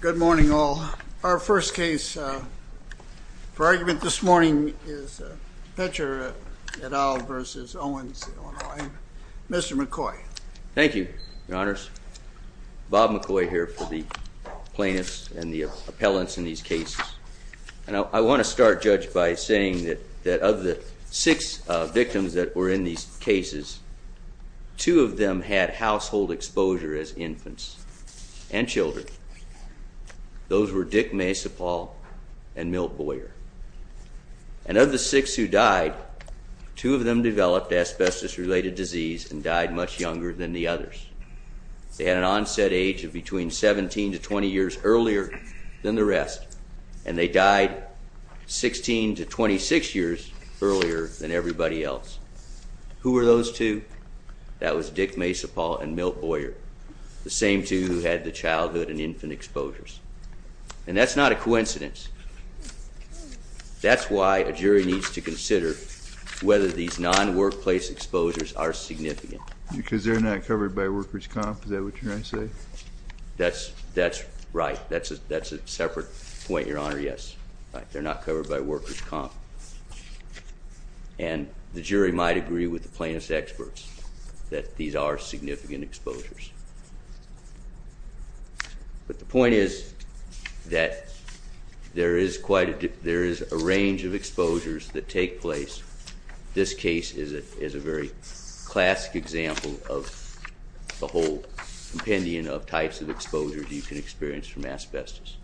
Good morning, all. Our first case for argument this morning is Pecher et al. v. Owens-Illinois. Mr. McCoy. Thank you, Your Honors. Bob McCoy here for the plaintiffs and the appellants in these cases. And I want to start, Judge, by saying that of the six victims that were in these cases, two of them had household exposure as infants and children. Those were Dick Maysapal and Milt Boyer. And of the six who died, two of them developed asbestos-related disease and died much younger than the others. They had an onset age of between 17 to 20 years earlier than the rest, and they died 16 to 26 years earlier than everybody else. Who were those two? That was Dick Maysapal and Milt Boyer, the same two who had the childhood and infant exposures. And that's not a coincidence. That's why a jury needs to consider whether these non-workplace exposures are significant. Because they're not covered by workers' comp? Is that what you're trying to say? That's right. That's a separate point, Your Honor, yes. They're not covered by workers' comp. And the jury might agree with the plaintiffs' experts that these are significant exposures. But the point is that there is a range of exposures that take place. This case is a very classic example of the whole compendium of types of exposures you can experience from asbestos.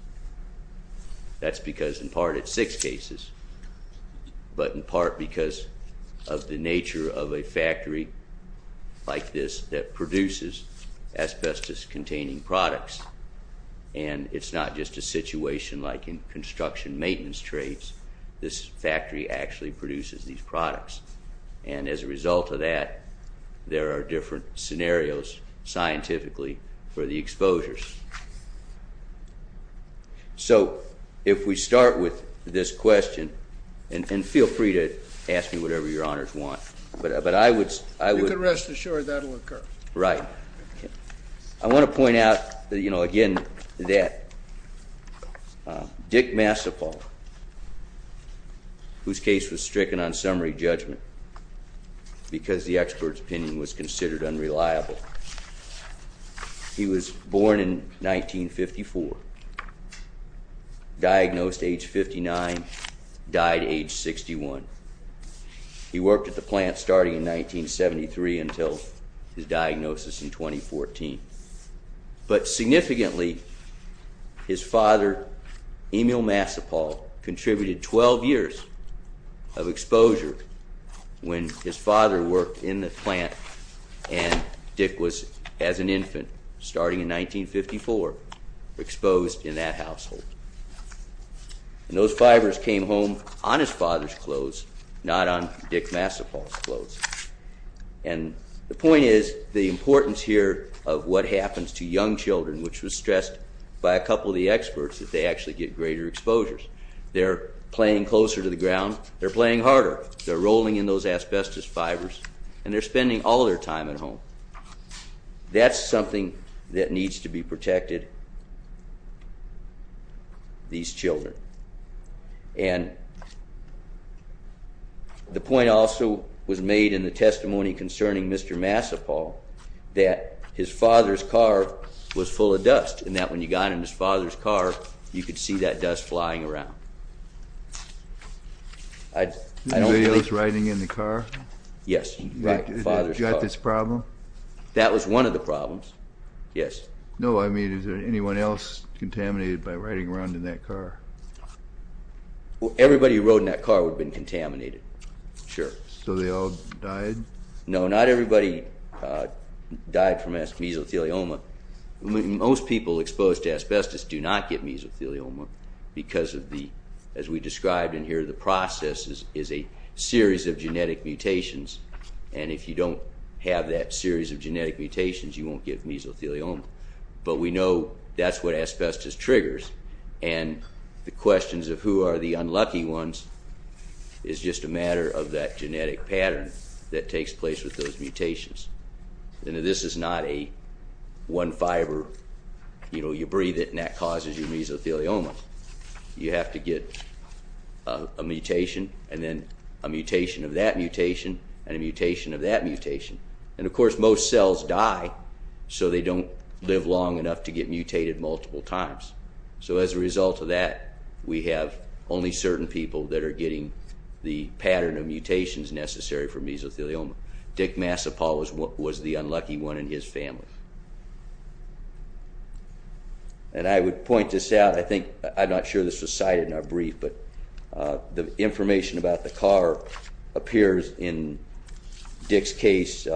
That's because in part it's six cases, but in part because of the nature of a factory like this that produces asbestos-containing products. And it's not just a situation like in construction maintenance trades. This factory actually produces these products. And as a result of that, there are different scenarios scientifically for the exposures. So if we start with this question, and feel free to ask me whatever Your Honors want, but I would... You can rest assured that will occur. Right. I want to point out, you know, again, that Dick Massapoff, whose case was stricken on summary judgment because the expert's opinion was considered unreliable. He was born in 1954, diagnosed age 59, died age 61. He worked at the plant starting in 1973 until his diagnosis in 2014. But significantly, his father, Emil Massapoff, contributed 12 years of exposure when his father worked in the plant, and Dick was, as an infant, starting in 1954, exposed in that household. And those fibers came home on his father's clothes, not on Dick Massapoff's clothes. And the point is, the importance here of what happens to young children, which was stressed by a couple of the experts, that they actually get greater exposures. They're playing closer to the ground, they're playing harder, they're rolling in those asbestos fibers, and they're spending all their time at home. That's something that needs to be protected, these children. And the point also was made in the testimony concerning Mr. Massapoff, that his father's car was full of dust, and that when you got in his father's car, you could see that dust flying around. Anybody else riding in the car? Yes. Got this problem? That was one of the problems, yes. No, I mean, is there anyone else contaminated by riding around in that car? Everybody who rode in that car would have been contaminated, sure. So they all died? No, not everybody died from mesothelioma. Most people exposed to asbestos do not get mesothelioma because of the, as we described in here, the process is a series of genetic mutations, and if you don't have that series of genetic mutations, you won't get mesothelioma. But we know that's what asbestos triggers, and the questions of who are the unlucky ones is just a matter of that genetic pattern that takes place with those mutations. And this is not a one fiber, you know, you breathe it and that causes your mesothelioma. You have to get a mutation, and then a mutation of that mutation, and a mutation of that mutation. And of course, most cells die, so they don't live long enough to get mutated multiple times. So as a result of that, we have only certain people that are getting the pattern of mutations necessary for mesothelioma. Dick Massapaw was the unlucky one in his family. And I would point this out. I think, I'm not sure this was cited in our brief, but the information about the car appears in Dick's case,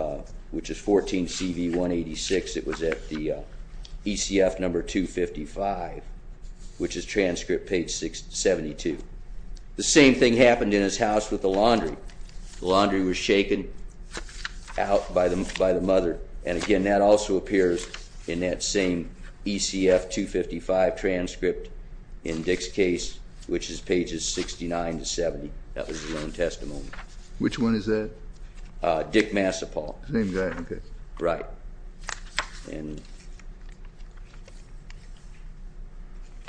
which is 14 CV 186. It was at the ECF number 255, which is transcript page 72. The same thing happened in his house with the laundry. The laundry was shaken out by the mother. And again, that also appears in that same ECF 255 transcript in Dick's case, which is pages 69 to 70. That was his own testimony. Which one is that? Dick Massapaw. Same guy, okay. Right. And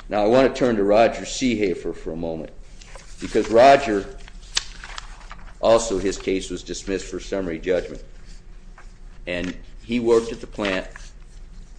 now I want to turn to Roger Seehafer for a moment. Because Roger, also his case was dismissed for summary judgment. And he worked at the plant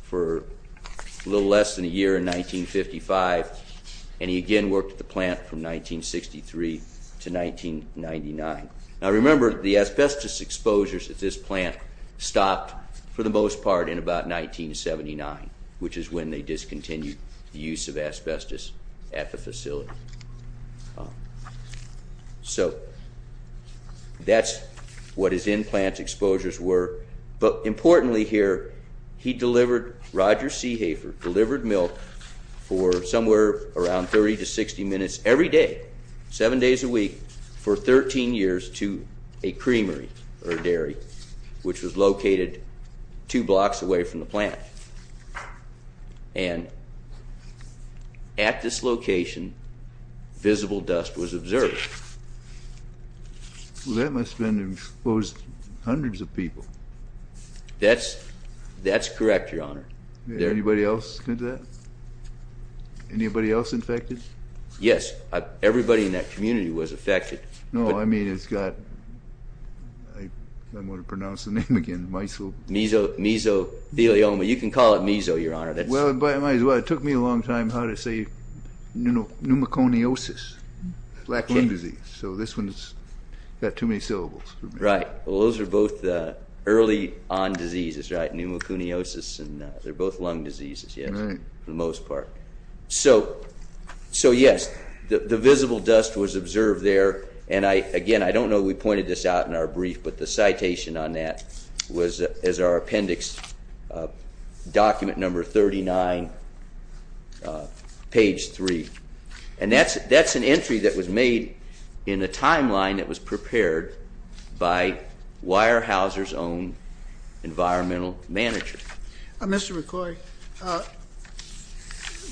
for a little less than a year in 1955. And he again worked at the plant from 1963 to 1999. Now remember, the asbestos exposures at this plant stopped for the most part in about 1979, which is when they discontinued the use of asbestos at the facility. So that's what his in-plant exposures were. But importantly here, he delivered, Roger Seehafer delivered milk for somewhere around 30 to 60 minutes every day, seven days a week, for 13 years to a creamery or dairy, which was located two blocks away from the plant. And at this location, visible dust was observed. Well, that must have exposed hundreds of people. That's correct, Your Honor. Anybody else get that? Anybody else infected? Yes. Everybody in that community was affected. No, I mean, it's got, I don't know how to pronounce the name again, mesothelioma. You can call it meso, Your Honor. Well, it took me a long time how to say pneumoconiosis, black lung disease. So this one's got too many syllables. Right. Well, those are both early-on diseases, right, pneumoconiosis. And they're both lung diseases, yes, for the most part. So, yes, the visible dust was observed there. And, again, I don't know we pointed this out in our brief, but the citation on that was as our appendix document number 39, page 3. And that's an entry that was made in a timeline that was prepared by Weyerhaeuser's own environmental manager. Mr. McCoy,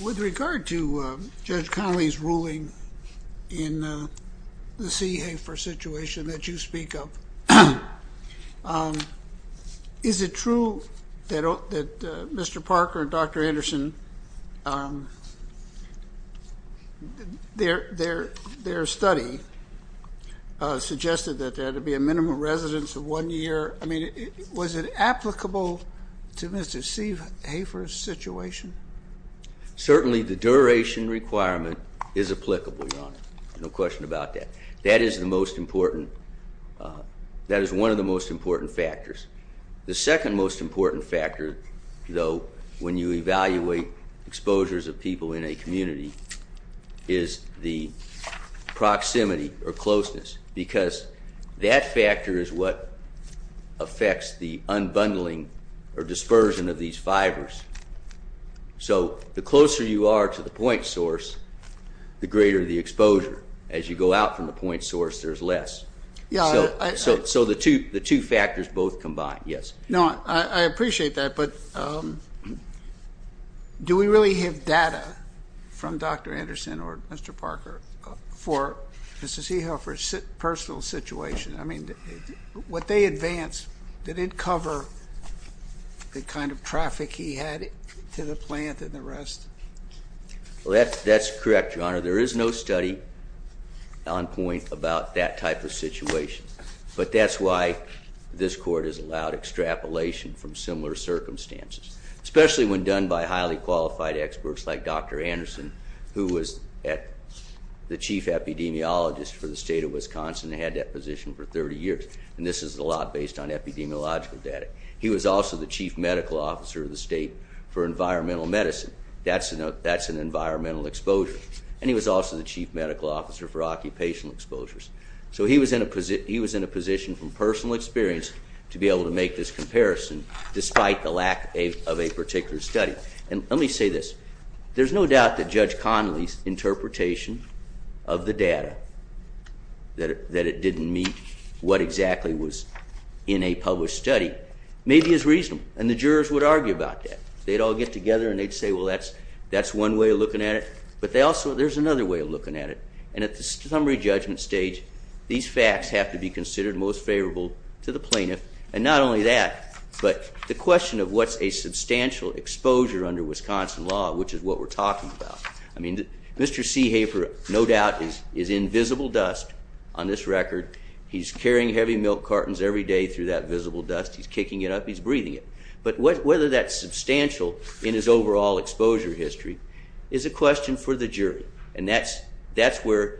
with regard to Judge Connolly's ruling in the CEHAFER situation that you speak of, is it true that Mr. Parker and Dr. Anderson, their study suggested that there had to be a minimum residence of one year? I mean, was it applicable to Mr. CEHAFER's situation? Certainly the duration requirement is applicable, Your Honor. No question about that. That is the most important. That is one of the most important factors. The second most important factor, though, when you evaluate exposures of people in a community, is the proximity or closeness, because that factor is what affects the unbundling or dispersion of these fibers. So the closer you are to the point source, the greater the exposure. As you go out from the point source, there's less. So the two factors both combine, yes. No, I appreciate that, but do we really have data from Dr. Anderson or Mr. Parker for Mr. CEHAFER's personal situation? I mean, what they advance, did it cover the kind of traffic he had to the plant and the rest? Well, that's correct, Your Honor. There is no study on point about that type of situation. But that's why this court has allowed extrapolation from similar circumstances, especially when done by highly qualified experts like Dr. Anderson, who was the chief epidemiologist for the state of Wisconsin and had that position for 30 years. And this is a lot based on epidemiological data. He was also the chief medical officer of the state for environmental medicine. That's an environmental exposure. And he was also the chief medical officer for occupational exposures. So he was in a position from personal experience to be able to make this comparison, despite the lack of a particular study. And let me say this. There's no doubt that Judge Connolly's interpretation of the data, that it didn't meet what exactly was in a published study, may be as reasonable. And the jurors would argue about that. They'd all get together and they'd say, well, that's one way of looking at it. But there's another way of looking at it. And at the summary judgment stage, these facts have to be considered most favorable to the plaintiff. And not only that, but the question of what's a substantial exposure under Wisconsin law, which is what we're talking about. I mean, Mr. Seehafer, no doubt, is in visible dust on this record. He's carrying heavy milk cartons every day through that visible dust. He's kicking it up. He's breathing it. But whether that's substantial in his overall exposure history is a question for the jury. And that's where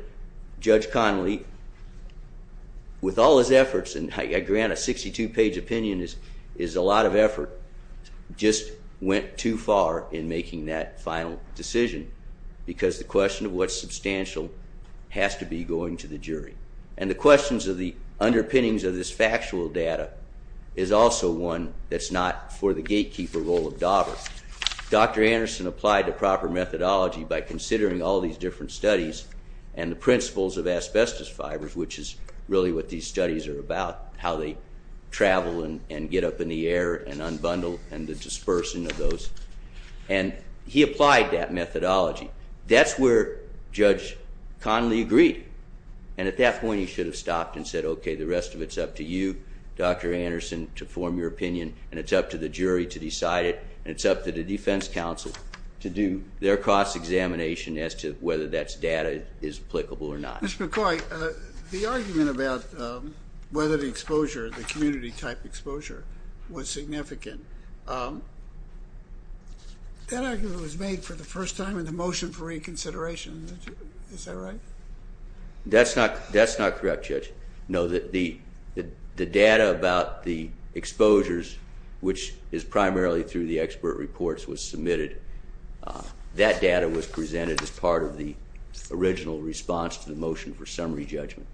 Judge Connolly, with all his efforts, and I grant a 62-page opinion is a lot of effort, just went too far in making that final decision. Because the question of what's substantial has to be going to the jury. And the questions of the underpinnings of this factual data is also one that's not for the gatekeeper role of Dauber. Dr. Anderson applied the proper methodology by considering all these different studies and the principles of asbestos fibers, which is really what these studies are about, how they travel and get up in the air and unbundle and the dispersing of those. And he applied that methodology. That's where Judge Connolly agreed. And at that point, he should have stopped and said, okay, the rest of it's up to you, Dr. Anderson, to form your opinion, and it's up to the jury to decide it, and it's up to the defense counsel to do their cross-examination as to whether that data is applicable or not. Mr. McCoy, the argument about whether the exposure, the community-type exposure, was significant, that argument was made for the first time in the motion for reconsideration. Is that right? That's not correct, Judge. No, the data about the exposures, which is primarily through the expert reports, was submitted. That data was presented as part of the original response to the motion for summary judgment.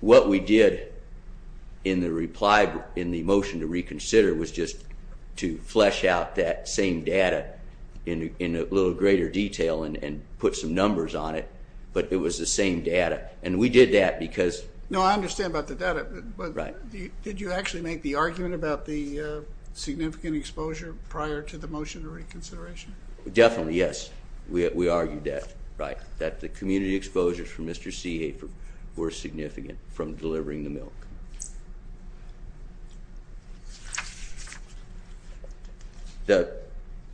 What we did in the motion to reconsider was just to flesh out that same data in a little greater detail and put some numbers on it, but it was the same data. No, I understand about the data, but did you actually make the argument about the significant exposure prior to the motion to reconsideration? Definitely, yes. We argued that the community exposures from Mr. Seehafer were significant from delivering the milk.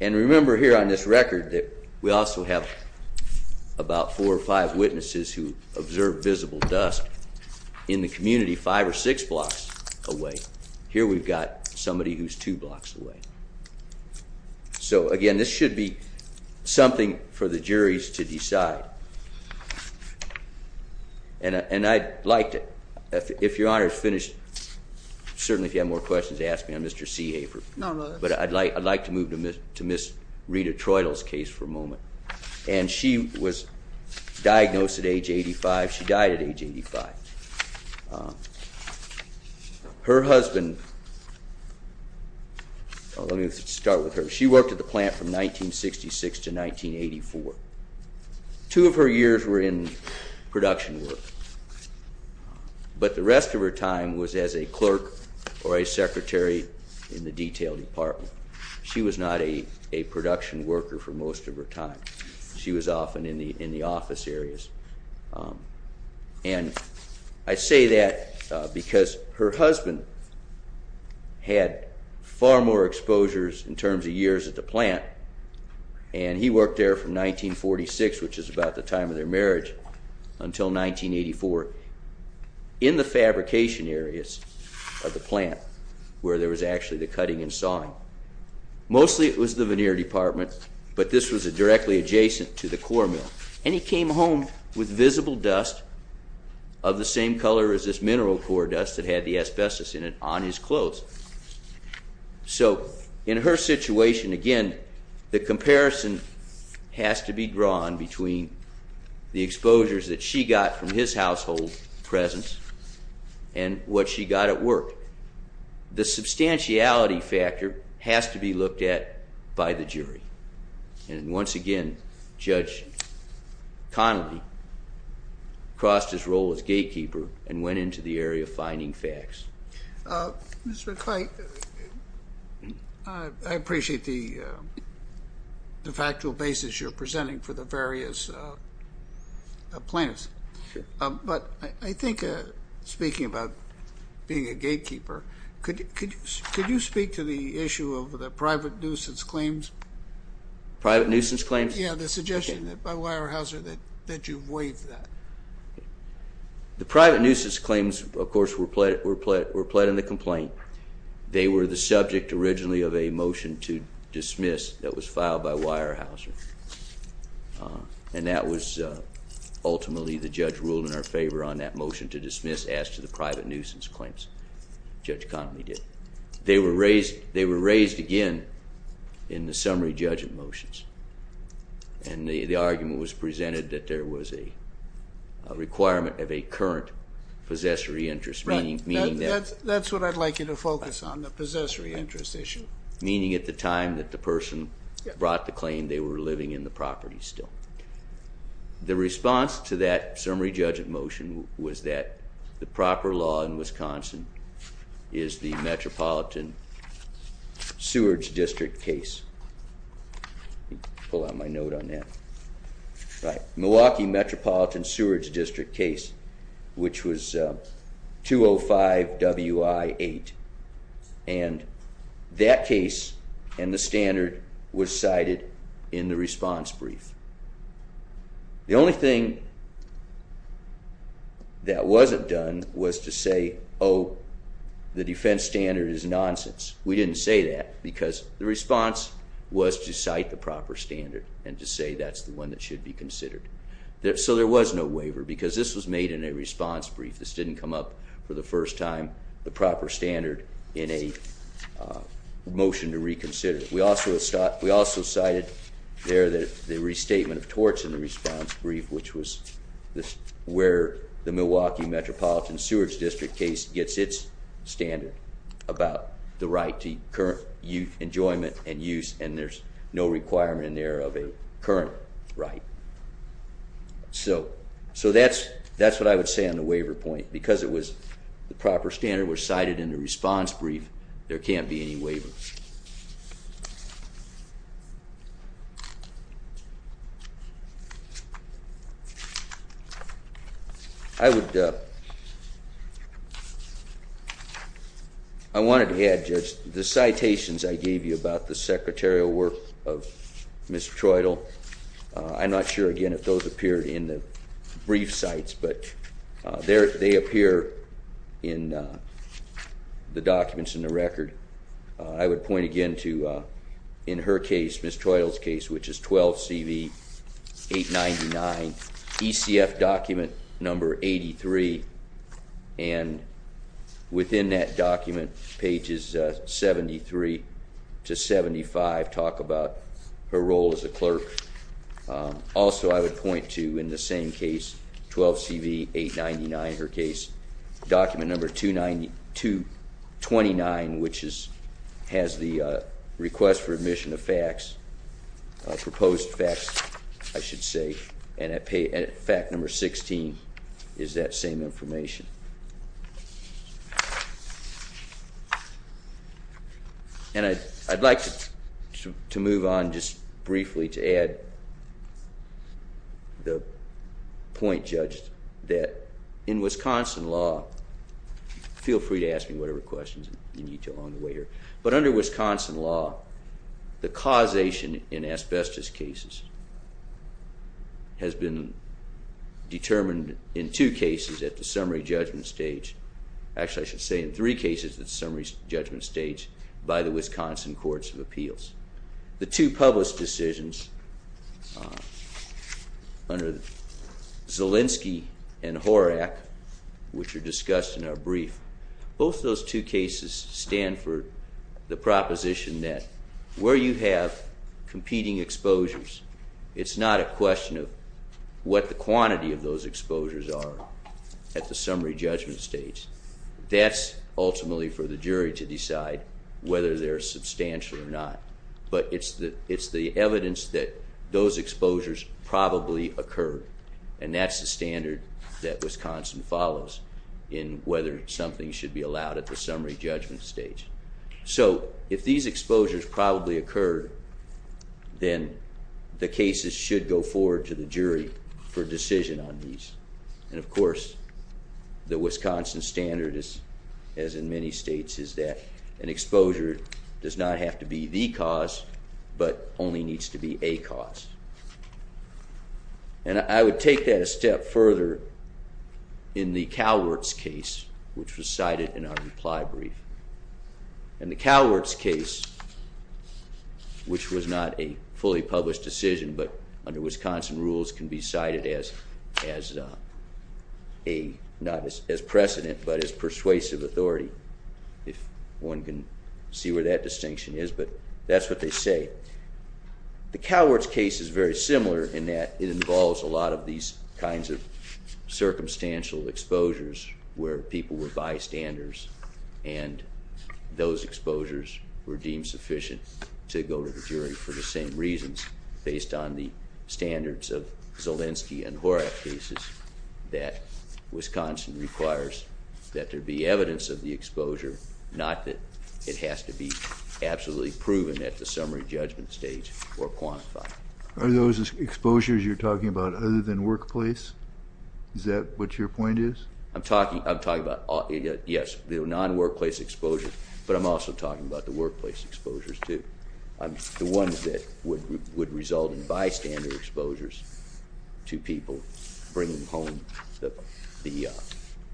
And remember here on this record that we also have about four or five witnesses who observed visible dust in the community five or six blocks away. Here we've got somebody who's two blocks away. So, again, this should be something for the juries to decide, and I'd like to, if Your Honor's finished, certainly if you have more questions, ask me on Mr. Seehafer. No, no, that's fine. But I'd like to move to Ms. Rita Troitil's case for a moment. And she was diagnosed at age 85. She died at age 85. Her husband, well, let me start with her. She worked at the plant from 1966 to 1984. Two of her years were in production work, but the rest of her time was as a clerk or a secretary in the detail department. She was not a production worker for most of her time. She was often in the office areas. And I say that because her husband had far more exposures in terms of years at the plant, and he worked there from 1946, which is about the time of their marriage, until 1984, in the fabrication areas of the plant where there was actually the cutting and sawing. Mostly it was the veneer department, but this was directly adjacent to the core mill. And he came home with visible dust of the same color as this mineral core dust that had the asbestos in it on his clothes. So in her situation, again, the comparison has to be drawn between the exposures that she got from his household presence and what she got at work. The substantiality factor has to be looked at by the jury. And once again, Judge Connolly crossed his role as gatekeeper and went into the area of finding facts. Mr. Kite, I appreciate the factual basis you're presenting for the various plaintiffs. But I think speaking about being a gatekeeper, could you speak to the issue of the private nuisance claims? Private nuisance claims? Yeah, the suggestion by Weyerhaeuser that you avoid that. The private nuisance claims, of course, were pled in the complaint. They were the subject originally of a motion to dismiss that was filed by Weyerhaeuser. And that was ultimately the judge ruled in our favor on that motion to dismiss as to the private nuisance claims. Judge Connolly did. They were raised again in the summary judgment motions. And the argument was presented that there was a requirement of a current possessory interest. Right, that's what I'd like you to focus on, the possessory interest issue. Meaning at the time that the person brought the claim, they were living in the property still. The response to that summary judgment motion was that the proper law in Wisconsin is the Metropolitan Sewerage District case. Let me pull out my note on that. Milwaukee Metropolitan Sewerage District case, which was 205WI-8. And that case and the standard was cited in the response brief. The only thing that wasn't done was to say, oh, the defense standard is nonsense. We didn't say that because the response was to cite the proper standard and to say that's the one that should be considered. So there was no waiver because this was made in a response brief. This didn't come up for the first time, the proper standard in a motion to reconsider. We also cited there the restatement of torts in the response brief, which was where the Milwaukee Metropolitan Sewerage District case gets its standard about the right to current enjoyment and use, and there's no requirement in there of a current right. So that's what I would say on the waiver point. Because the proper standard was cited in the response brief, there can't be any waiver. I wanted to add, Judge, the citations I gave you about the secretarial work of Ms. Treudel, I'm not sure, again, if those appeared in the brief sites, but they appear in the documents in the record. I would point again to, in her case, Ms. Treudel's case, which is 12CV 899, ECF document number 83, and within that document, pages 73 to 75, talk about her role as a clerk. Also, I would point to, in the same case, 12CV 899, her case, document number 229, which has the request for admission of facts, proposed facts, I should say, and fact number 16 is that same information. And I'd like to move on just briefly to add the point, Judge, that in Wisconsin law, feel free to ask me whatever questions you need to along the way here, but under Wisconsin law, the causation in asbestos cases has been determined in two cases, at the summary judgment stage, actually I should say in three cases at the summary judgment stage, by the Wisconsin Courts of Appeals. The two published decisions under Zielinski and Horak, which are discussed in our brief, both those two cases stand for the proposition that where you have competing exposures, it's not a question of what the quantity of those exposures are at the summary judgment stage. That's ultimately for the jury to decide whether they're substantial or not, but it's the evidence that those exposures probably occurred, and that's the standard that Wisconsin follows in whether something should be allowed at the summary judgment stage. So if these exposures probably occurred, then the cases should go forward to the jury for decision on these. And, of course, the Wisconsin standard, as in many states, is that an exposure does not have to be the cause but only needs to be a cause. And I would take that a step further in the Cowerts case, which was cited in our reply brief. And the Cowerts case, which was not a fully published decision, but under Wisconsin rules can be cited not as precedent but as persuasive authority, if one can see where that distinction is, but that's what they say. The Cowerts case is very similar in that it involves a lot of these kinds of circumstantial exposures where people were bystanders and those exposures were deemed sufficient to go to the jury for the same reasons based on the standards of Zolensky and Horak cases, that Wisconsin requires that there be evidence of the exposure, not that it has to be absolutely proven at the summary judgment stage or quantified. Are those exposures you're talking about other than workplace? Is that what your point is? I'm talking about, yes, the non-workplace exposures, but I'm also talking about the workplace exposures too, the ones that would result in bystander exposures to people bringing home the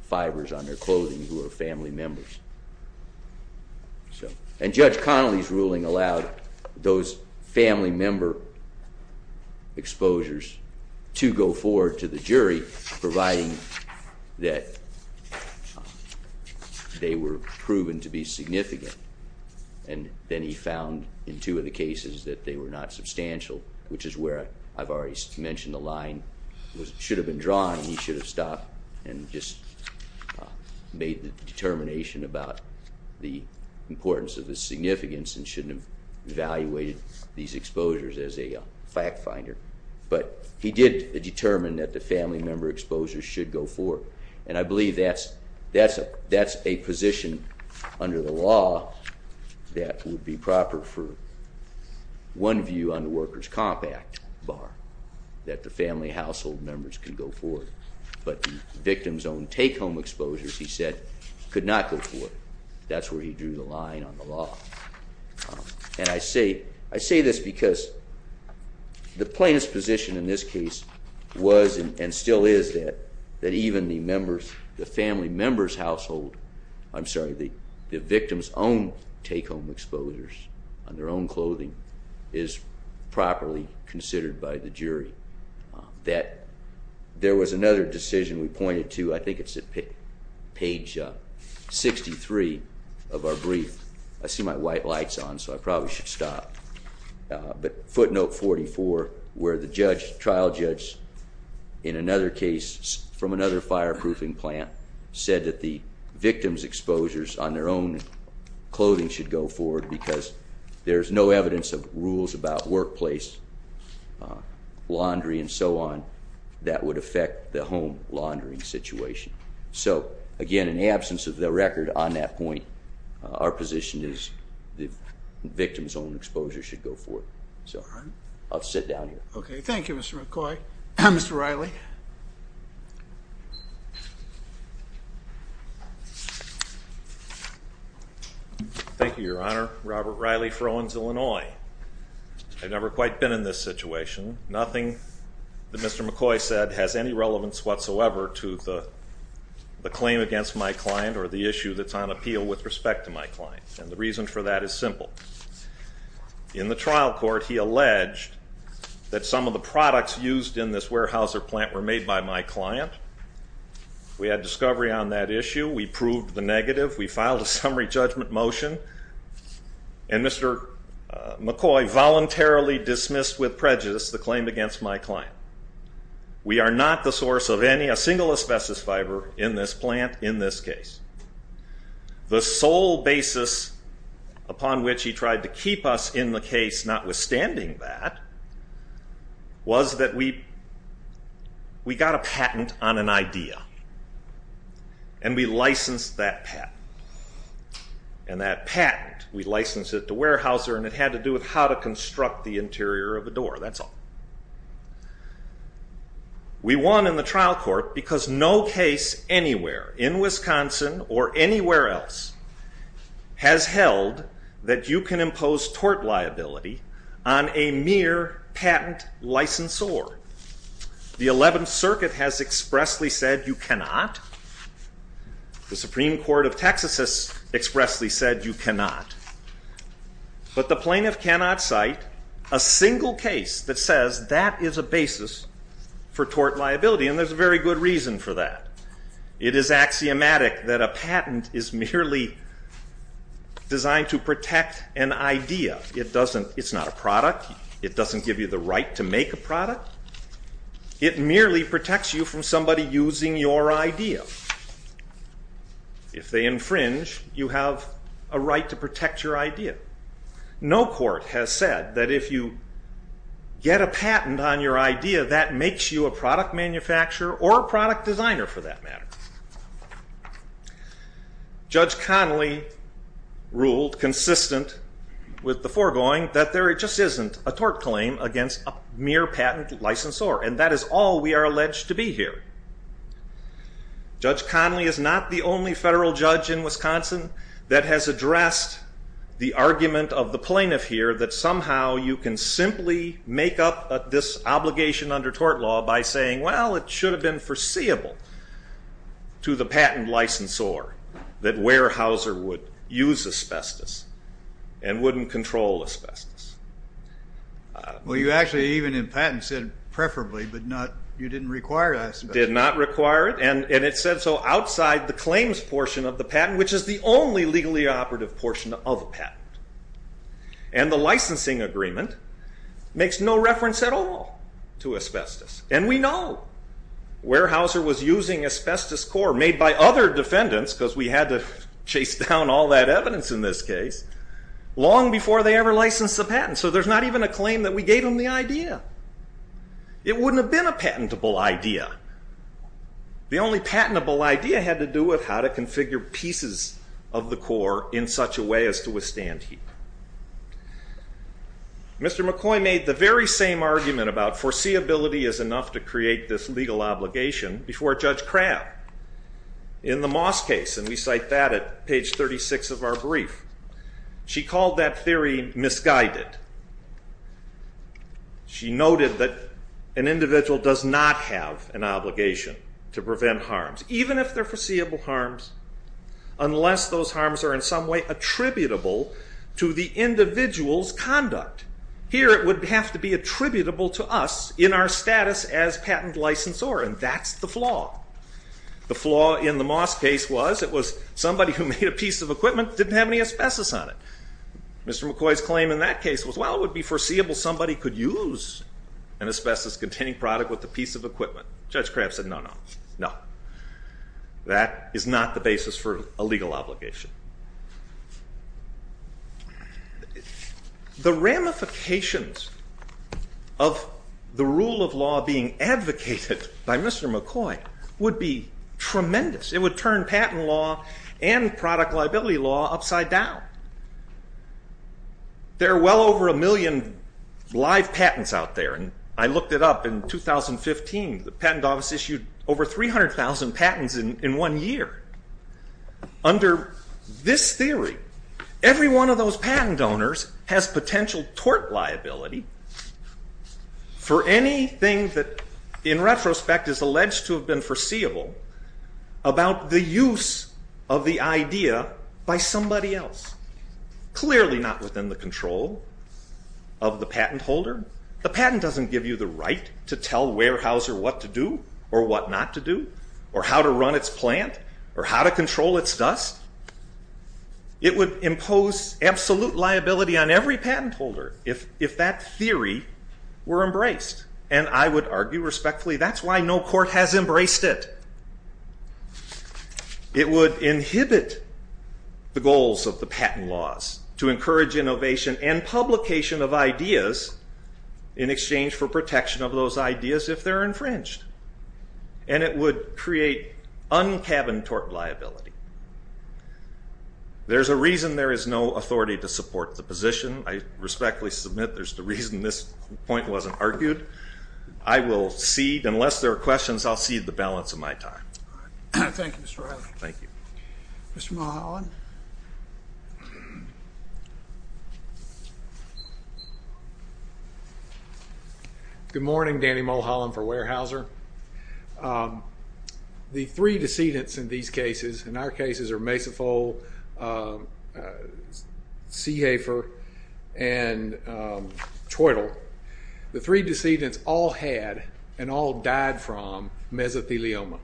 fibers on their clothing who are family members. And Judge Connolly's ruling allowed those family member exposures to go forward to the jury, providing that they were proven to be significant, and then he found in two of the cases that they were not substantial, which is where I've already mentioned the line should have been drawn and he should have stopped and just made the determination about the importance of the significance and shouldn't have evaluated these exposures as a fact finder. But he did determine that the family member exposures should go forward, and I believe that's a position under the law that would be proper for one view on the workers' comp act bar, that the family household members can go forward. But the victim's own take-home exposures, he said, could not go forward. That's where he drew the line on the law. And I say this because the plaintiff's position in this case was and still is that even the family member's household, I'm sorry, the victim's own take-home exposures on their own clothing is properly considered by the jury. That there was another decision we pointed to. I think it's at page 63 of our brief. I see my white lights on, so I probably should stop. But footnote 44, where the judge, trial judge, in another case from another fireproofing plant, said that the victim's exposures on their own clothing should go forward because there's no evidence of rules about workplace laundry and so on that would affect the home laundering situation. So, again, in the absence of the record on that point, our position is the victim's own exposure should go forward. So I'll sit down here. Okay, thank you, Mr. McCoy. Mr. Riley? Thank you, Your Honor. Robert Riley for Owens, Illinois. I've never quite been in this situation. Nothing that Mr. McCoy said has any relevance whatsoever to the claim against my client or the issue that's on appeal with respect to my client. And the reason for that is simple. In the trial court, he alleged that some of the products used in this warehouse or plant were made by my client. We had discovery on that issue. We proved the negative. We filed a summary judgment motion. And Mr. McCoy voluntarily dismissed with prejudice the claim against my client. We are not the source of any, a single asbestos fiber in this plant in this case. The sole basis upon which he tried to keep us in the case, notwithstanding that, was that we got a patent on an idea. And we licensed that patent. And that patent, we licensed it to Weyerhaeuser, and it had to do with how to construct the interior of a door. That's all. We won in the trial court because no case anywhere in Wisconsin or anywhere else has held that you can impose tort liability on a mere patent licensor. The 11th Circuit has expressly said you cannot. The Supreme Court of Texas has expressly said you cannot. But the plaintiff cannot cite a single case that says that is a basis for tort liability, and there's a very good reason for that. It is axiomatic that a patent is merely designed to protect an idea. It's not a product. It doesn't give you the right to make a product. It merely protects you from somebody using your idea. If they infringe, you have a right to protect your idea. No court has said that if you get a patent on your idea, that makes you a product manufacturer or a product designer, for that matter. Judge Connolly ruled, consistent with the foregoing, that there just isn't a tort claim against a mere patent licensor, and that is all we are alleged to be here. Judge Connolly is not the only federal judge in Wisconsin that has addressed the argument of the plaintiff here that somehow you can simply make up this obligation under tort law by saying, well, it should have been foreseeable to the patent licensor that Weyerhaeuser would use asbestos and wouldn't control asbestos. Well, you actually even in patent said preferably, but you didn't require asbestos. Did not require it, and it said so outside the claims portion of the patent, which is the only legally operative portion of a patent. And the licensing agreement makes no reference at all to asbestos. And we know Weyerhaeuser was using asbestos core made by other defendants, because we had to chase down all that evidence in this case, long before they ever licensed the patent. So there's not even a claim that we gave them the idea. It wouldn't have been a patentable idea. The only patentable idea had to do with how to configure pieces of the core in such a way as to withstand heat. Mr. McCoy made the very same argument about foreseeability is enough to create this legal obligation before Judge Crabb in the Moss case, and we cite that at page 36 of our brief. She called that theory misguided. She noted that an individual does not have an obligation to prevent harms, even if they're foreseeable harms, unless those harms are in some way attributable to the individual's conduct. Here it would have to be attributable to us in our status as patent licensor, and that's the flaw. The flaw in the Moss case was it was somebody who made a piece of equipment that didn't have any asbestos on it. Mr. McCoy's claim in that case was, well, it would be foreseeable somebody could use an asbestos-containing product with a piece of equipment. Judge Crabb said, no, no, no. That is not the basis for a legal obligation. The ramifications of the rule of law being advocated by Mr. McCoy would be tremendous. It would turn patent law and product liability law upside down. There are well over a million live patents out there, and I looked it up in 2015. The patent office issued over 300,000 patents in one year. Under this theory, every one of those patent donors has potential tort liability for anything that in retrospect is alleged to have been foreseeable about the use of the idea by somebody else. Clearly not within the control of the patent holder. The patent doesn't give you the right to tell Weyerhaeuser what to do or what not to do or how to run its plant or how to control its dust. It would impose absolute liability on every patent holder if that theory were embraced, and I would argue respectfully that's why no court has embraced it. It would inhibit the goals of the patent laws to encourage innovation and publication of ideas in exchange for protection of those ideas if they're infringed, and it would create un-cabin tort liability. There's a reason there is no authority to support the position. I respectfully submit there's a reason this point wasn't argued. I will cede. Unless there are questions, I'll cede the balance of my time. Thank you, Mr. Riley. Thank you. Mr. Mulholland? Good morning. Danny Mulholland for Weyerhaeuser. The three decedents in these cases, and our cases are Mesafol, Seehafer, and Troitle. The three decedents all had and all died from mesothelioma,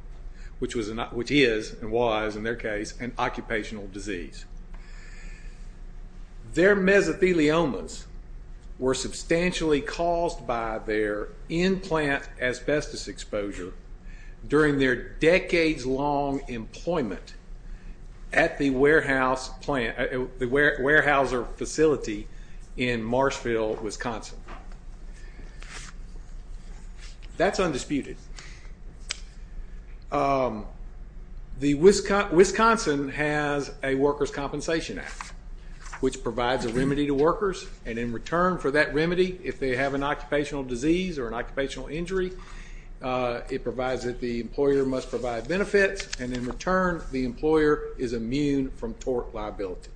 which is and was, in their case, an occupational disease. Their mesotheliomas were substantially caused by their in-plant asbestos exposure during their decades-long employment at the Weyerhaeuser facility in Marshville, Wisconsin. That's undisputed. Wisconsin has a Workers' Compensation Act, which provides a remedy to workers, and in return for that remedy, if they have an occupational disease or an occupational injury, it provides that the employer must provide benefits, and in return the employer is immune from tort liability.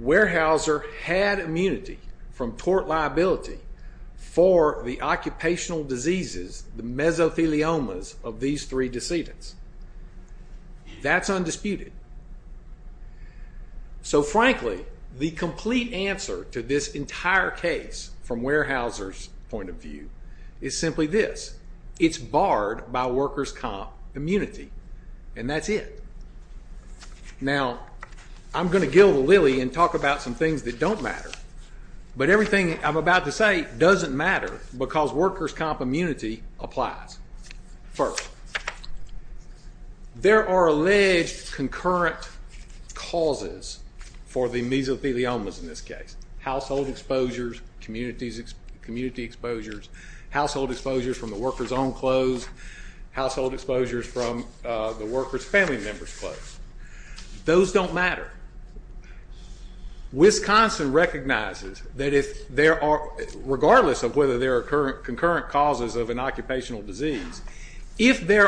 Weyerhaeuser had immunity from tort liability for the occupational diseases, the mesotheliomas, of these three decedents. That's undisputed. So frankly, the complete answer to this entire case from Weyerhaeuser's point of view is simply this. It's barred by workers' comp immunity, and that's it. Now, I'm going to gill the lily and talk about some things that don't matter, but everything I'm about to say doesn't matter because workers' comp immunity applies. First, there are alleged concurrent causes for the mesotheliomas in this case. Household exposures, community exposures, household exposures from the workers' own clothes, household exposures from the workers' family members' clothes. Those don't matter. Wisconsin recognizes that regardless of whether there are concurrent causes of an occupational disease, if there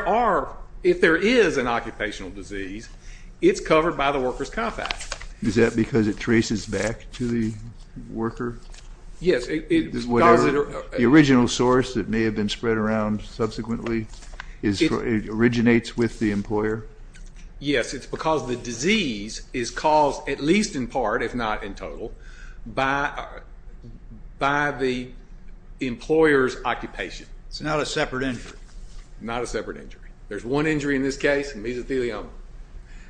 is an occupational disease, it's covered by the workers' comp act. Is that because it traces back to the worker? Yes. The original source that may have been spread around subsequently originates with the employer? Yes, it's because the disease is caused at least in part, if not in total, by the employer's occupation. It's not a separate injury? Not a separate injury. There's one injury in this case, mesothelioma.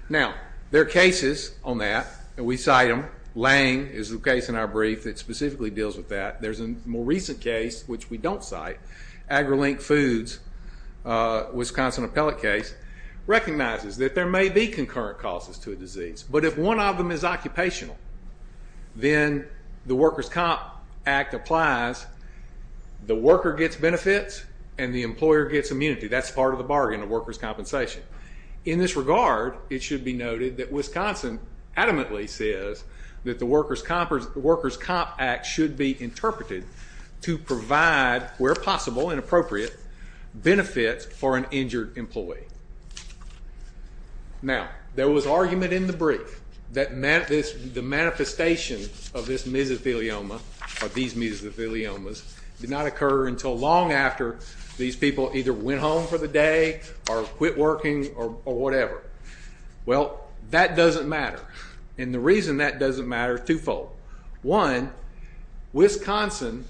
Now, there are cases on that, and we cite them. Lange is the case in our brief that specifically deals with that. There's a more recent case which we don't cite, AgriLink Foods' Wisconsin appellate case, recognizes that there may be concurrent causes to a disease, but if one of them is occupational, then the workers' comp act applies, the worker gets benefits, and the employer gets immunity. That's part of the bargain of workers' compensation. In this regard, it should be noted that Wisconsin adamantly says that the workers' comp act should be interpreted to provide, where possible and appropriate, benefits for an injured employee. Now, there was argument in the brief that the manifestation of this mesothelioma, or these mesotheliomas, did not occur until long after these people either went home for the day or quit working or whatever. Well, that doesn't matter, and the reason that doesn't matter is twofold. One, Wisconsin,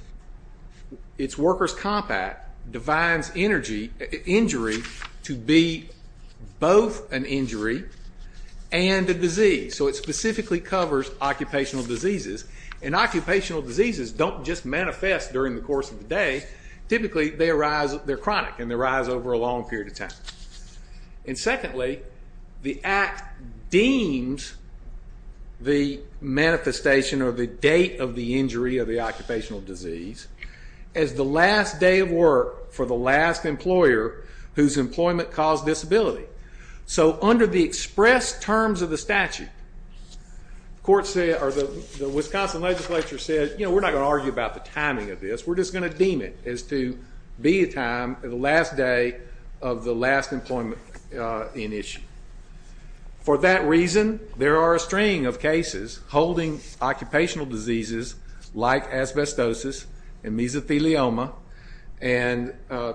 its workers' comp act, defines injury to be both an injury and a disease, so it specifically covers occupational diseases, and occupational diseases don't just manifest during the course of the day. Typically, they arise, they're chronic, and they arise over a long period of time. And secondly, the act deems the manifestation or the date of the injury of the occupational disease as the last day of work for the last employer whose employment caused disability. So under the express terms of the statute, the Wisconsin legislature said, you know, we're not going to argue about the timing of this, we're just going to deem it as to be a time, the last day of the last employment in issue. For that reason, there are a string of cases holding occupational diseases like asbestosis and mesothelioma and a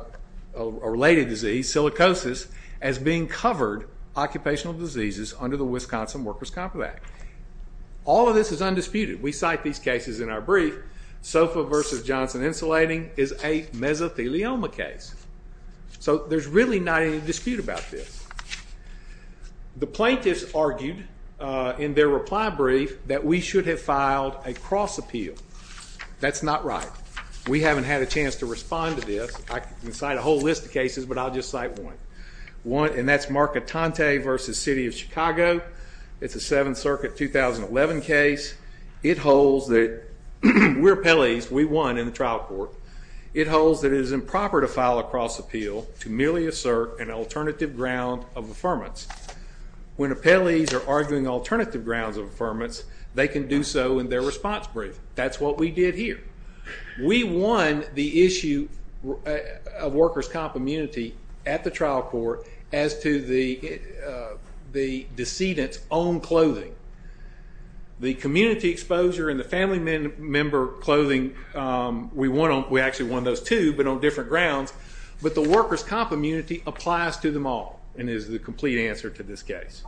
related disease, silicosis, as being covered occupational diseases under the Wisconsin Workers' Comp Act. All of this is undisputed. We cite these cases in our brief. SOFA versus Johnson Insulating is a mesothelioma case. So there's really not any dispute about this. The plaintiffs argued in their reply brief that we should have filed a cross appeal. That's not right. We haven't had a chance to respond to this. I can cite a whole list of cases, but I'll just cite one. And that's Marcatante versus City of Chicago. It's a Seventh Circuit 2011 case. It holds that we're appellees, we won in the trial court. It holds that it is improper to file a cross appeal to merely assert an alternative ground of affirmance. When appellees are arguing alternative grounds of affirmance, they can do so in their response brief. That's what we did here. We won the issue of workers' comp immunity at the trial court as to the decedent's own clothing. The community exposure and the family member clothing, we actually won those too, but on different grounds. But the workers' comp immunity applies to them all and is the complete answer to this case.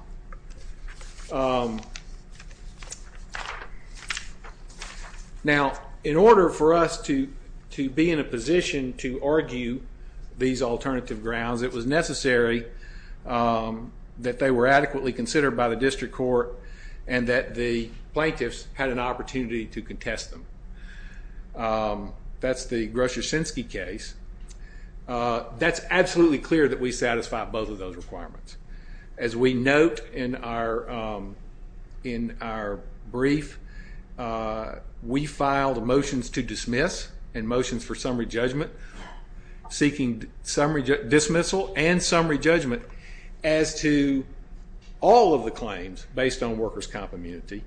Now, in order for us to be in a position to argue these alternative grounds, it was necessary that they were adequately considered by the district court and that the plaintiffs had an opportunity to contest them. That's the Grosz-Yosinski case. That's absolutely clear that we satisfy both of those requirements. As we note in our brief, we filed motions to dismiss and motions for summary judgment, seeking dismissal and summary judgment as to all of the claims based on workers' comp immunity.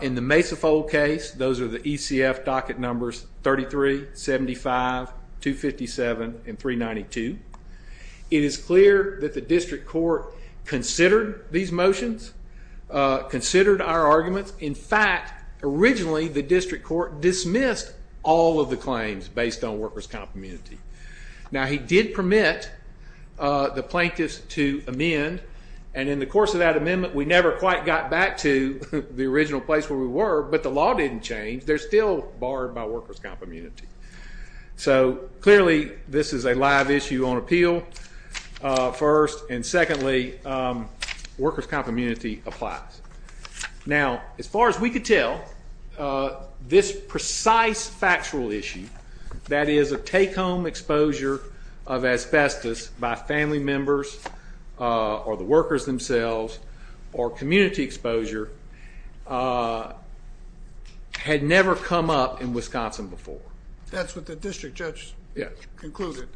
In the Mesafold case, those are the ECF docket numbers 33, 75, 257, and 392. It is clear that the district court considered these motions, considered our arguments. In fact, originally the district court dismissed all of the claims based on workers' comp immunity. Now, he did permit the plaintiffs to amend, and in the course of that amendment, we never quite got back to the original place where we were, but the law didn't change. They're still barred by workers' comp immunity. So clearly this is a live issue on appeal, first, and secondly, workers' comp immunity applies. Now, as far as we could tell, this precise factual issue, that is a take-home exposure of asbestos by family members or the workers themselves or community exposure, had never come up in Wisconsin before. That's what the district judge concluded.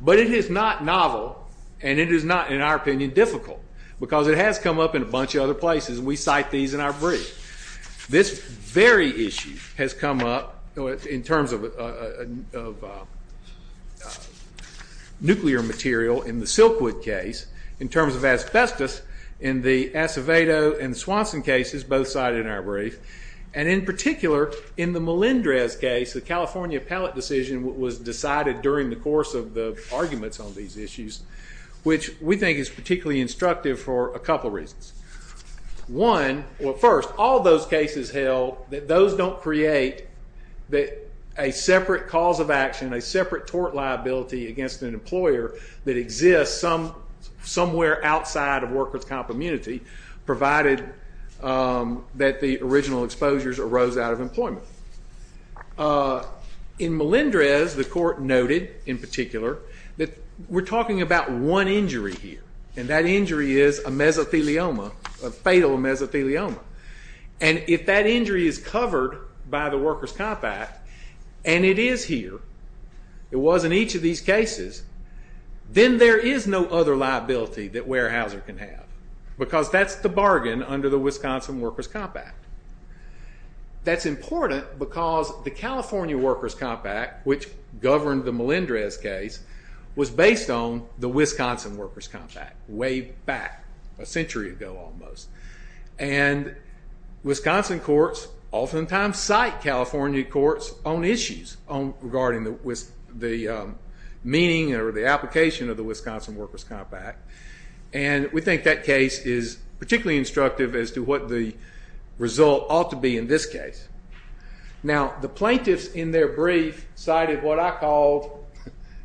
But it is not novel, and it is not, in our opinion, difficult, because it has come up in a bunch of other places, and we cite these in our brief. This very issue has come up in terms of nuclear material in the Silkwood case, in terms of asbestos, in the Acevedo and Swanson cases, both cited in our brief, and in particular, in the Melendrez case, the California pellet decision was decided during the course of the arguments on these issues, which we think is particularly instructive for a couple of reasons. One, well, first, all those cases held, those don't create a separate cause of action, a separate tort liability against an employer that exists somewhere outside of workers' comp immunity, provided that the original exposures arose out of employment. In Melendrez, the court noted, in particular, that we're talking about one injury here, and that injury is a mesothelioma, a fatal mesothelioma. And if that injury is covered by the Workers' Comp Act, and it is here, it was in each of these cases, then there is no other liability that Weyerhaeuser can have, because that's the bargain under the Wisconsin Workers' Comp Act. That's important because the California Workers' Comp Act, which governed the Melendrez case, was based on the Wisconsin Workers' Comp Act, way back, a century ago almost. And Wisconsin courts oftentimes cite California courts on issues regarding the meaning or the application of the Wisconsin Workers' Comp Act. And we think that case is particularly instructive as to what the result ought to be in this case. Now, the plaintiffs in their brief cited what I called...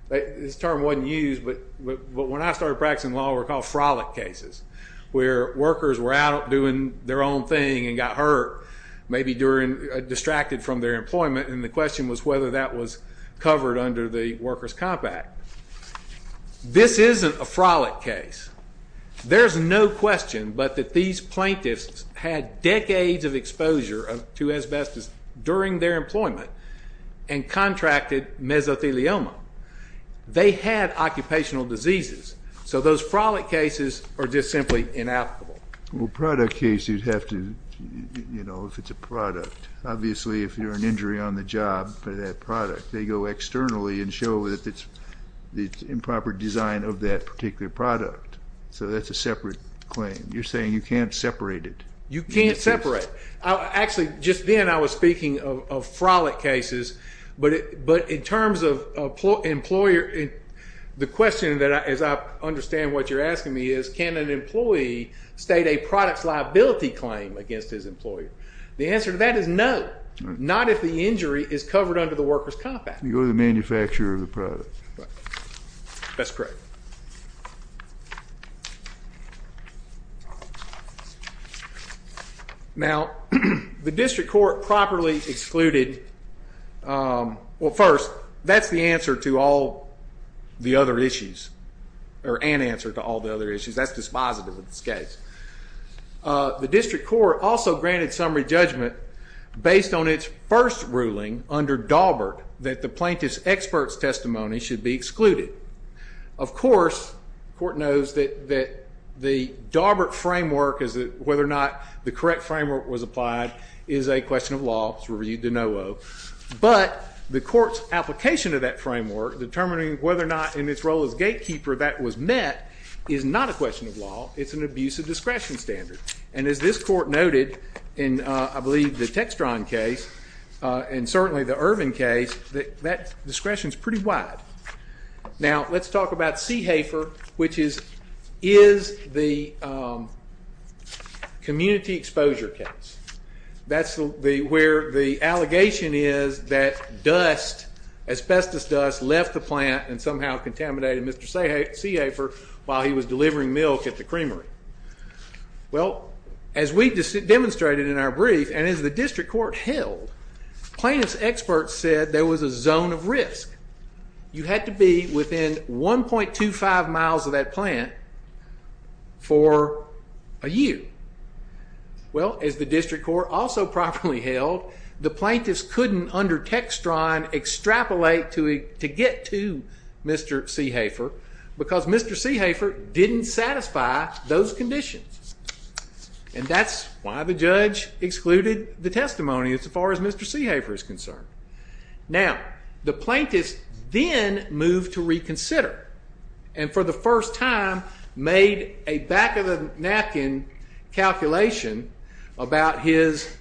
This term wasn't used, but when I started practicing law, it was called frolic cases, where workers were out doing their own thing and got hurt, or maybe distracted from their employment, and the question was whether that was covered under the Workers' Comp Act. This isn't a frolic case. There's no question but that these plaintiffs had decades of exposure to asbestos during their employment and contracted mesothelioma. They had occupational diseases. So those frolic cases are just simply inapplicable. Well, a product case, you'd have to, you know, if it's a product. Obviously, if you're an injury on the job for that product, they go externally and show that it's improper design of that particular product. So that's a separate claim. You're saying you can't separate it. You can't separate. Actually, just then I was speaking of frolic cases, but in terms of employer... The question, as I understand what you're asking me, is can an employee state a product's liability claim against his employer? The answer to that is no, not if the injury is covered under the Workers' Comp Act. You go to the manufacturer of the product. That's correct. Now, the district court properly excluded... Well, first, that's the answer to all the other issues, or an answer to all the other issues. That's dispositive of this case. The district court also granted summary judgment based on its first ruling under Daubert that the plaintiff's expert's testimony should be excluded. Of course, the court knows that the Daubert framework, whether or not the correct framework was applied, is a question of law. It's reviewed de novo. But the court's application of that framework, determining whether or not in its role as gatekeeper that was met, is not a question of law. It's an abuse of discretion standard. And as this court noted in, I believe, the Textron case, and certainly the Irvin case, that discretion's pretty wide. Now, let's talk about Seehafer, which is the community exposure case. That's where the allegation is that asbestos dust left the plant and somehow contaminated Mr. Seehafer while he was delivering milk at the creamery. Well, as we demonstrated in our brief, and as the district court held, plaintiff's expert said there was a zone of risk. You had to be within 1.25 miles of that plant for a year. Well, as the district court also properly held, the plaintiff's couldn't, under Textron, extrapolate to get to Mr. Seehafer because Mr. Seehafer didn't satisfy those conditions. And that's why the judge excluded the testimony as far as Mr. Seehafer is concerned. Now, the plaintiff's then moved to reconsider and for the first time made a back-of-the-napkin calculation about his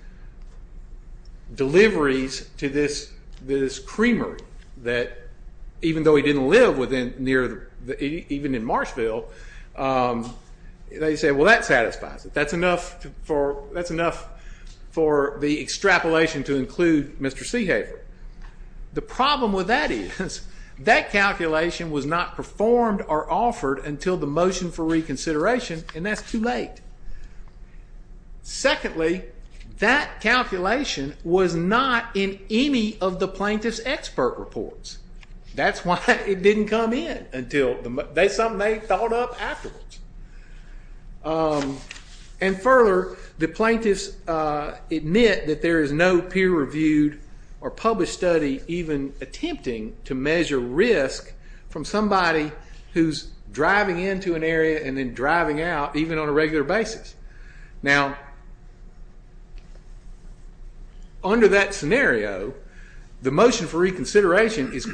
deliveries to this creamery that even though he didn't live near, even in Marshville, they said, well, that satisfies it. That's enough for the extrapolation to include Mr. Seehafer. The problem with that is that calculation was not performed or offered until the motion for reconsideration, and that's too late. Secondly, that calculation was not in any of the plaintiff's expert reports. That's why it didn't come in until something they thought up afterwards. And further, the plaintiff's admit that there is no peer-reviewed or published study from somebody who's driving into an area and then driving out even on a regular basis. Now, under that scenario, the motion for reconsideration is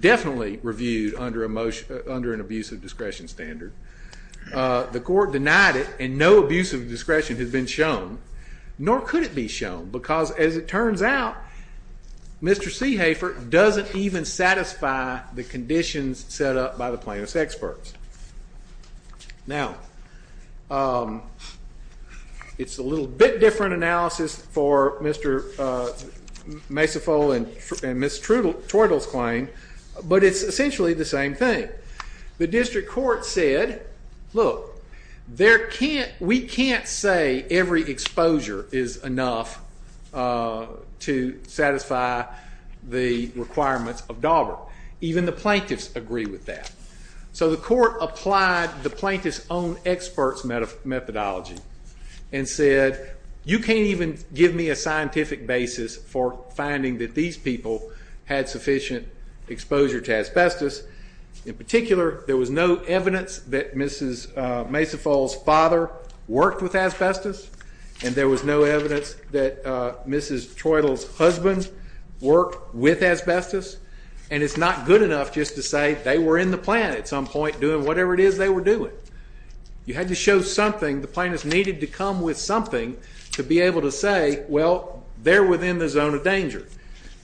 definitely reviewed under an abuse of discretion standard. The court denied it, and no abuse of discretion has been shown, nor could it be shown, because as it turns out, Mr. Seehafer doesn't even satisfy the conditions set up by the plaintiff's experts. Now, um, it's a little bit different analysis for Mr. Masifo and Ms. Tweddle's claim, but it's essentially the same thing. The district court said, look, we can't say every exposure is enough to satisfy the requirements of Dauber. Even the plaintiffs agree with that. So the court applied the plaintiff's own experts' methodology and said, you can't even give me a scientific basis for finding that these people had sufficient exposure to asbestos. In particular, there was no evidence that Mrs. Masifo's father worked with asbestos, and there was no evidence that Mrs. Tweddle's husband worked with asbestos, and it's not good enough just to say they were in the plan at some point doing whatever it is they were doing. You had to show something. The plaintiffs needed to come with something to be able to say, well, they're within the zone of danger.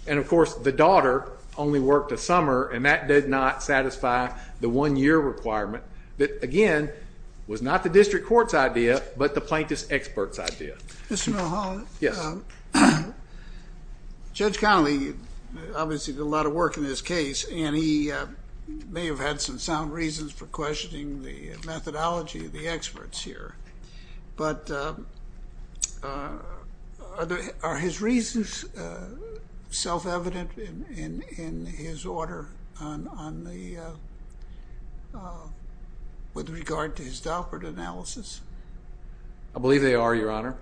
And, of course, the daughter only worked a summer, and that did not satisfy the one-year requirement that, again, was not the district court's idea, but the plaintiff's experts' idea. Mr. Milholland? Yes. Judge Connolly obviously did a lot of work in this case, and he may have had some sound reasons for questioning the methodology of the experts here, but are his reasons self-evident in his order on the... with regard to his Daubert analysis? I believe they are, Your Honor,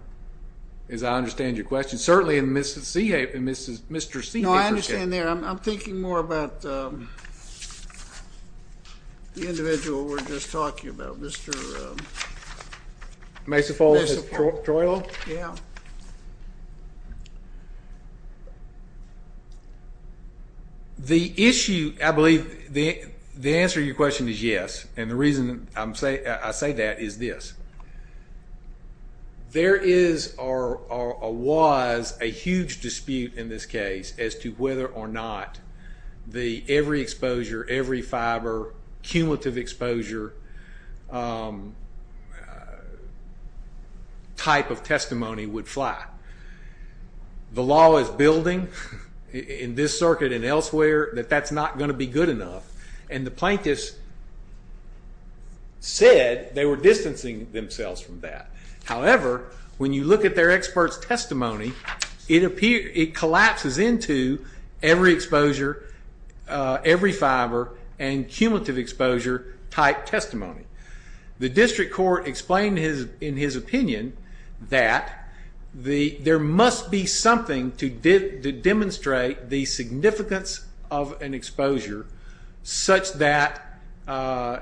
as I understand your question. Certainly, in Mr. Seehafer's case... No, I understand there. I'm thinking more about the individual we were just talking about, Mr.... Mesafolo? Troilo? Yeah. The issue, I believe, the answer to your question is yes, and the reason I say that is this. There is or was a huge dispute in this case as to whether or not every exposure, every fiber, cumulative exposure type of testimony would fly. The law is building in this circuit and elsewhere that that's not going to be good enough, and the plaintiffs said they were distancing themselves from that. However, when you look at their experts' testimony, it collapses into every exposure, every fiber and cumulative exposure type testimony. The district court explained in his opinion that there must be something to demonstrate the significance of an exposure such that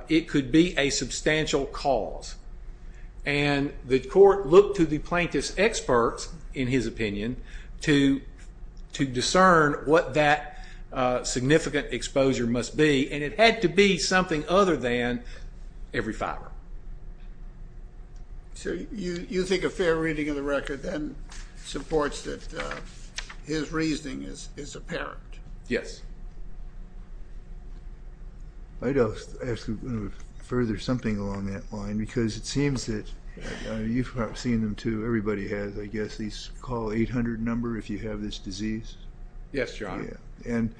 it could be a substantial cause, and the court looked to the plaintiff's experts, in his opinion, to discern what that significant exposure must be, and it had to be something other than every fiber. So you think a fair reading of the record then supports that his reasoning is apparent? Yes. I'd ask you to further something along that line because it seems that you've seen them too. Everybody has, I guess. These call 800 number if you have this disease. Yes, Your Honor. And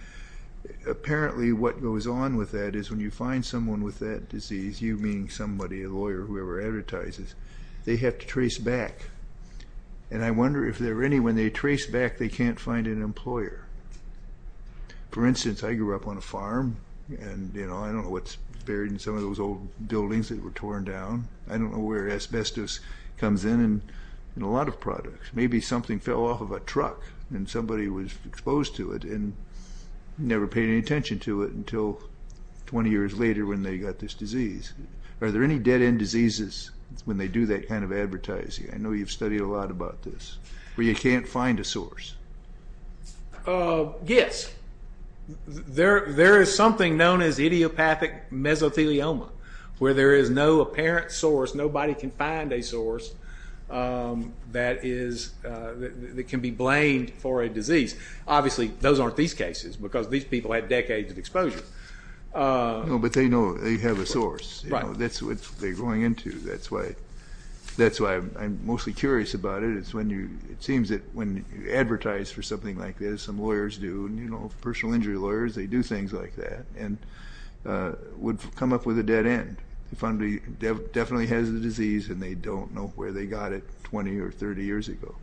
apparently what goes on with that is when you find someone with that disease, you meaning somebody, a lawyer, whoever advertises, they have to trace back, and I wonder if there are any when they trace back they can't find an employer. For instance, I grew up on a farm, and I don't know what's buried in some of those old buildings that were torn down. I don't know where asbestos comes in in a lot of products. Maybe something fell off of a truck and somebody was exposed to it and never paid any attention to it until 20 years later when they got this disease. Are there any dead-end diseases when they do that kind of advertising? I know you've studied a lot about this, where you can't find a source. Yes. There is something known as idiopathic mesothelioma where there is no apparent source, nobody can find a source that can be blamed for a disease. Obviously those aren't these cases because these people had decades of exposure. But they know they have a source. That's what they're going into. That's why I'm mostly curious about it. It seems that when you advertise for something like this, some lawyers do, personal injury lawyers, they do things like that, and would come up with a dead end. If somebody definitely has the disease and they don't know where they got it 20 or 30 years ago.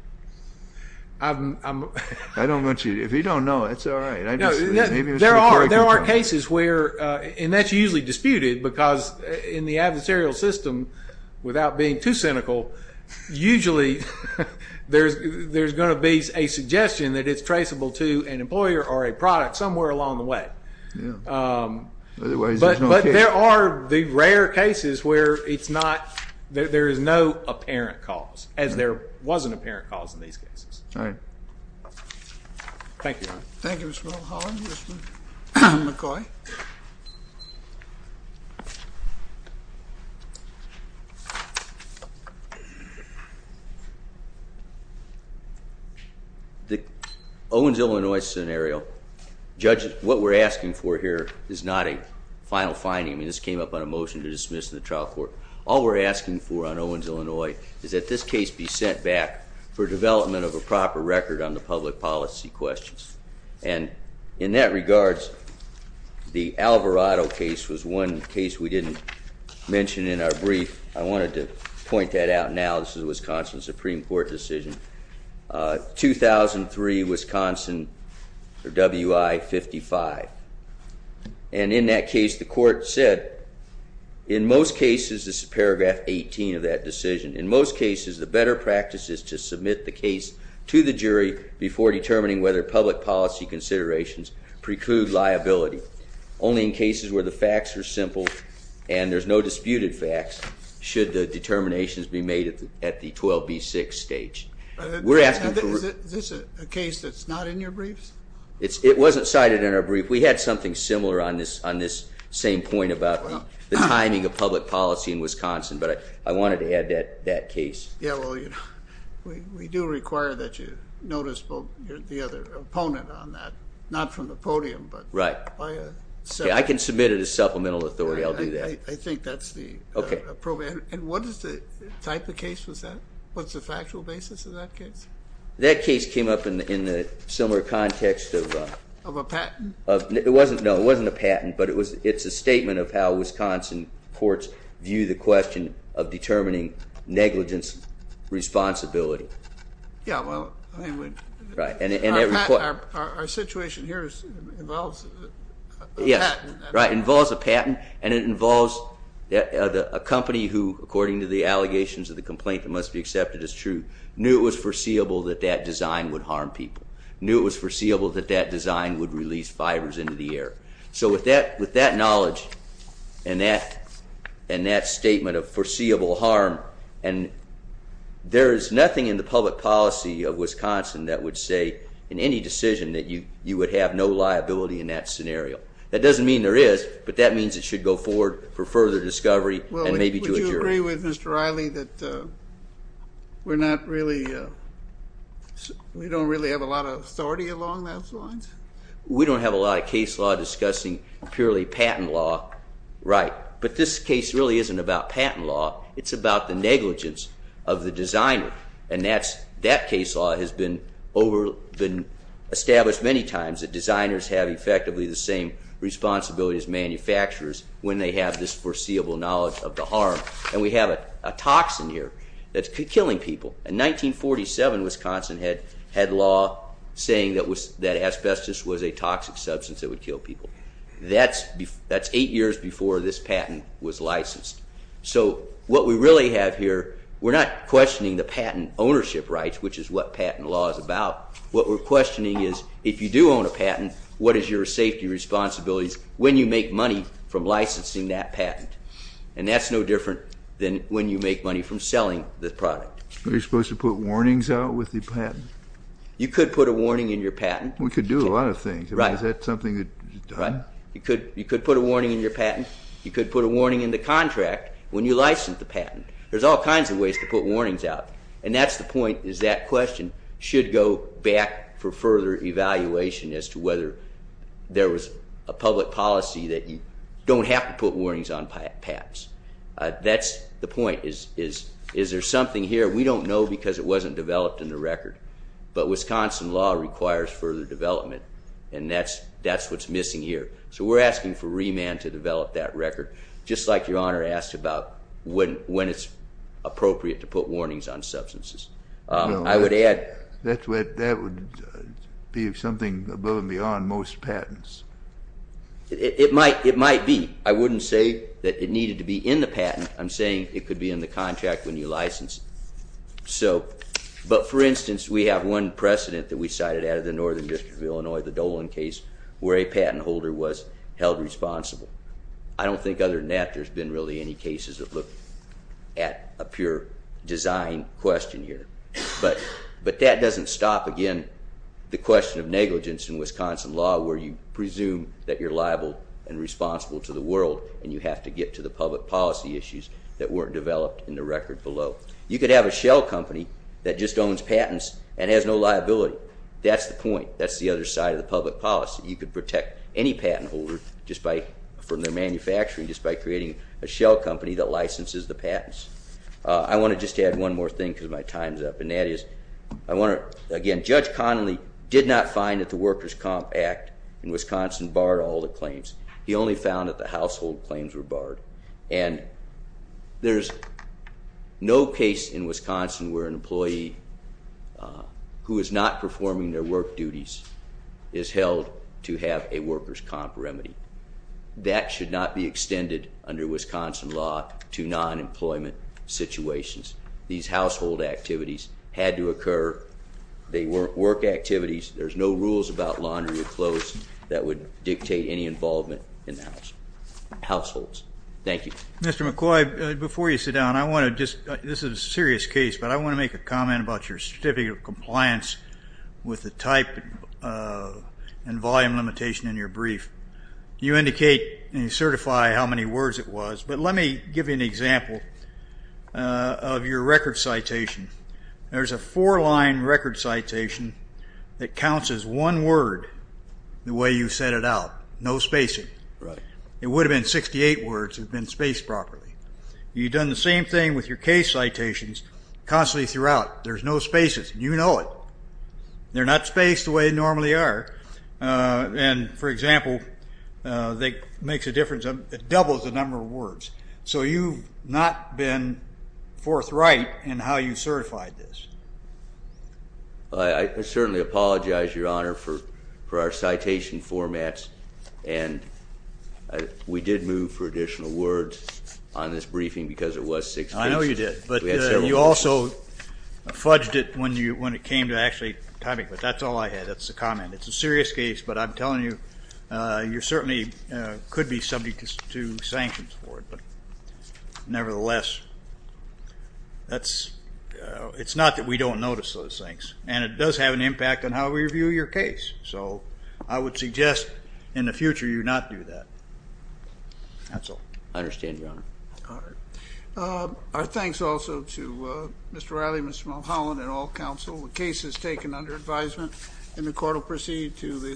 If you don't know, that's all right. There are cases where, and that's usually disputed because in the adversarial system, without being too cynical, usually there's going to be a suggestion that it's traceable to an employer or a product somewhere along the way. But there are the rare cases where there is no apparent cause, as there was an apparent cause in these cases. All right. Thank you. Thank you, Mr. Mulholland. Mr. McCoy. Thank you. The Owens, Illinois scenario, what we're asking for here is not a final finding. This came up on a motion to dismiss in the trial court. All we're asking for on Owens, Illinois is that this case be sent back for development of a proper record on the public policy questions. And in that regards, the Alvarado case was one case we didn't mention in our brief. I wanted to point that out now. This is a Wisconsin Supreme Court decision. 2003, Wisconsin, or WI-55. And in that case, the court said, in most cases, this is paragraph 18 of that decision, in most cases, the better practice is to submit the case to the jury before determining whether public policy considerations preclude liability. Only in cases where the facts are simple and there's no disputed facts should the determinations be made at the 12B6 stage. Is this a case that's not in your briefs? It wasn't cited in our brief. We had something similar on this same point about the timing of public policy in Wisconsin, but I wanted to add that case. Yeah, well, we do require that you notice the other opponent on that. Not from the podium, but... Right. I can submit it as supplemental authority. I'll do that. I think that's the appropriate... And what type of case was that? What's the factual basis of that case? That case came up in the similar context of... Of a patent? No, it wasn't a patent, but it's a statement of how Wisconsin courts view the question of determining negligence responsibility. Yeah, well... Right. Our situation here involves a patent. Yes, right, involves a patent, and it involves a company who, according to the allegations of the complaint that must be accepted as true, knew it was foreseeable that that design would harm people, knew it was foreseeable that that design would release fibers into the air. So with that knowledge and that statement of foreseeable harm, and there is nothing in the public policy of Wisconsin that would say in any decision that you would have no liability in that scenario. That doesn't mean there is, but that means it should go forward for further discovery and maybe to a jury. Well, would you agree with Mr. Riley that we're not really... We don't really have a lot of authority along those lines? We don't have a lot of case law discussing purely patent law. Right. But this case really isn't about patent law. It's about the negligence of the designer, and that case law has been established many times that designers have effectively the same responsibilities as manufacturers when they have this foreseeable knowledge of the harm. And we have a toxin here that's killing people. In 1947, Wisconsin had law saying that asbestos was a toxic substance that would kill people. That's eight years before this patent was licensed. So what we really have here, we're not questioning the patent ownership rights, which is what patent law is about. What we're questioning is if you do own a patent, what is your safety responsibilities when you make money from licensing that patent? And that's no different than when you make money from selling the product. Are you supposed to put warnings out with the patent? You could put a warning in your patent. We could do a lot of things. Is that something that's done? You could put a warning in your patent. You could put a warning in the contract when you license the patent. There's all kinds of ways to put warnings out, and that's the point is that question should go back for further evaluation as to whether there was a public policy that you don't have to put warnings on patents. That's the point, is there something here we don't know because it wasn't developed in the record, but Wisconsin law requires further development, and that's what's missing here. So we're asking for remand to develop that record, just like Your Honor asked about when it's appropriate to put warnings on substances. I would add... That would be something above and beyond most patents. It might be. I wouldn't say that it needed to be in the patent. I'm saying it could be in the contract when you license it. But for instance, we have one precedent that we cited out of the Northern District of Illinois, the Dolan case, where a patent holder was held responsible. I don't think other than that there's been really any cases that look at a pure design question here. But that doesn't stop, again, the question of negligence in Wisconsin law where you presume that you're liable and responsible to the world, and you have to get to the public policy issues that weren't developed in the record below. You could have a shell company that just owns patents and has no liability. That's the point. That's the other side of the public policy. You could protect any patent holder from their manufacturing just by creating a shell company that licenses the patents. I want to just add one more thing because my time's up, and that is, again, Judge Connolly did not find that the Workers' Comp Act in Wisconsin barred all the claims. He only found that the household claims were barred. And there's no case in Wisconsin where an employee who is not performing their work duties is held to have a Workers' Comp remedy. That should not be extended under Wisconsin law to non-employment situations. These household activities had to occur. They weren't work activities. There's no rules about laundry or clothes that would dictate any involvement in households. Thank you. Mr. McCoy, before you sit down, this is a serious case, but I want to make a comment about your Certificate of Compliance with the type and volume limitation in your brief. You indicate and you certify how many words it was, but let me give you an example of your record citation. There's a four-line record citation that counts as one word the way you set it out. No spacing. It would have been 68 words if it had been spaced properly. You've done the same thing with your case citations constantly throughout. There's no spaces. You know it. They're not spaced the way they normally are. And, for example, that makes a difference. It doubles the number of words. So you've not been forthright in how you certified this. I certainly apologize, Your Honor, for our citation formats. And we did move for additional words on this briefing because it was six cases. I know you did. But you also fudged it when it came to actually typing. But that's all I had. That's the comment. It's a serious case, but I'm telling you, you certainly could be subject to sanctions for it. But, nevertheless, it's not that we don't notice those things. And it does have an impact on how we review your case. So I would suggest in the future you not do that. That's all. I understand, Your Honor. All right. Our thanks also to Mr. Riley, Mr. Mulholland, and all counsel. The case is taken under advisement, and the court will proceed to the assessment.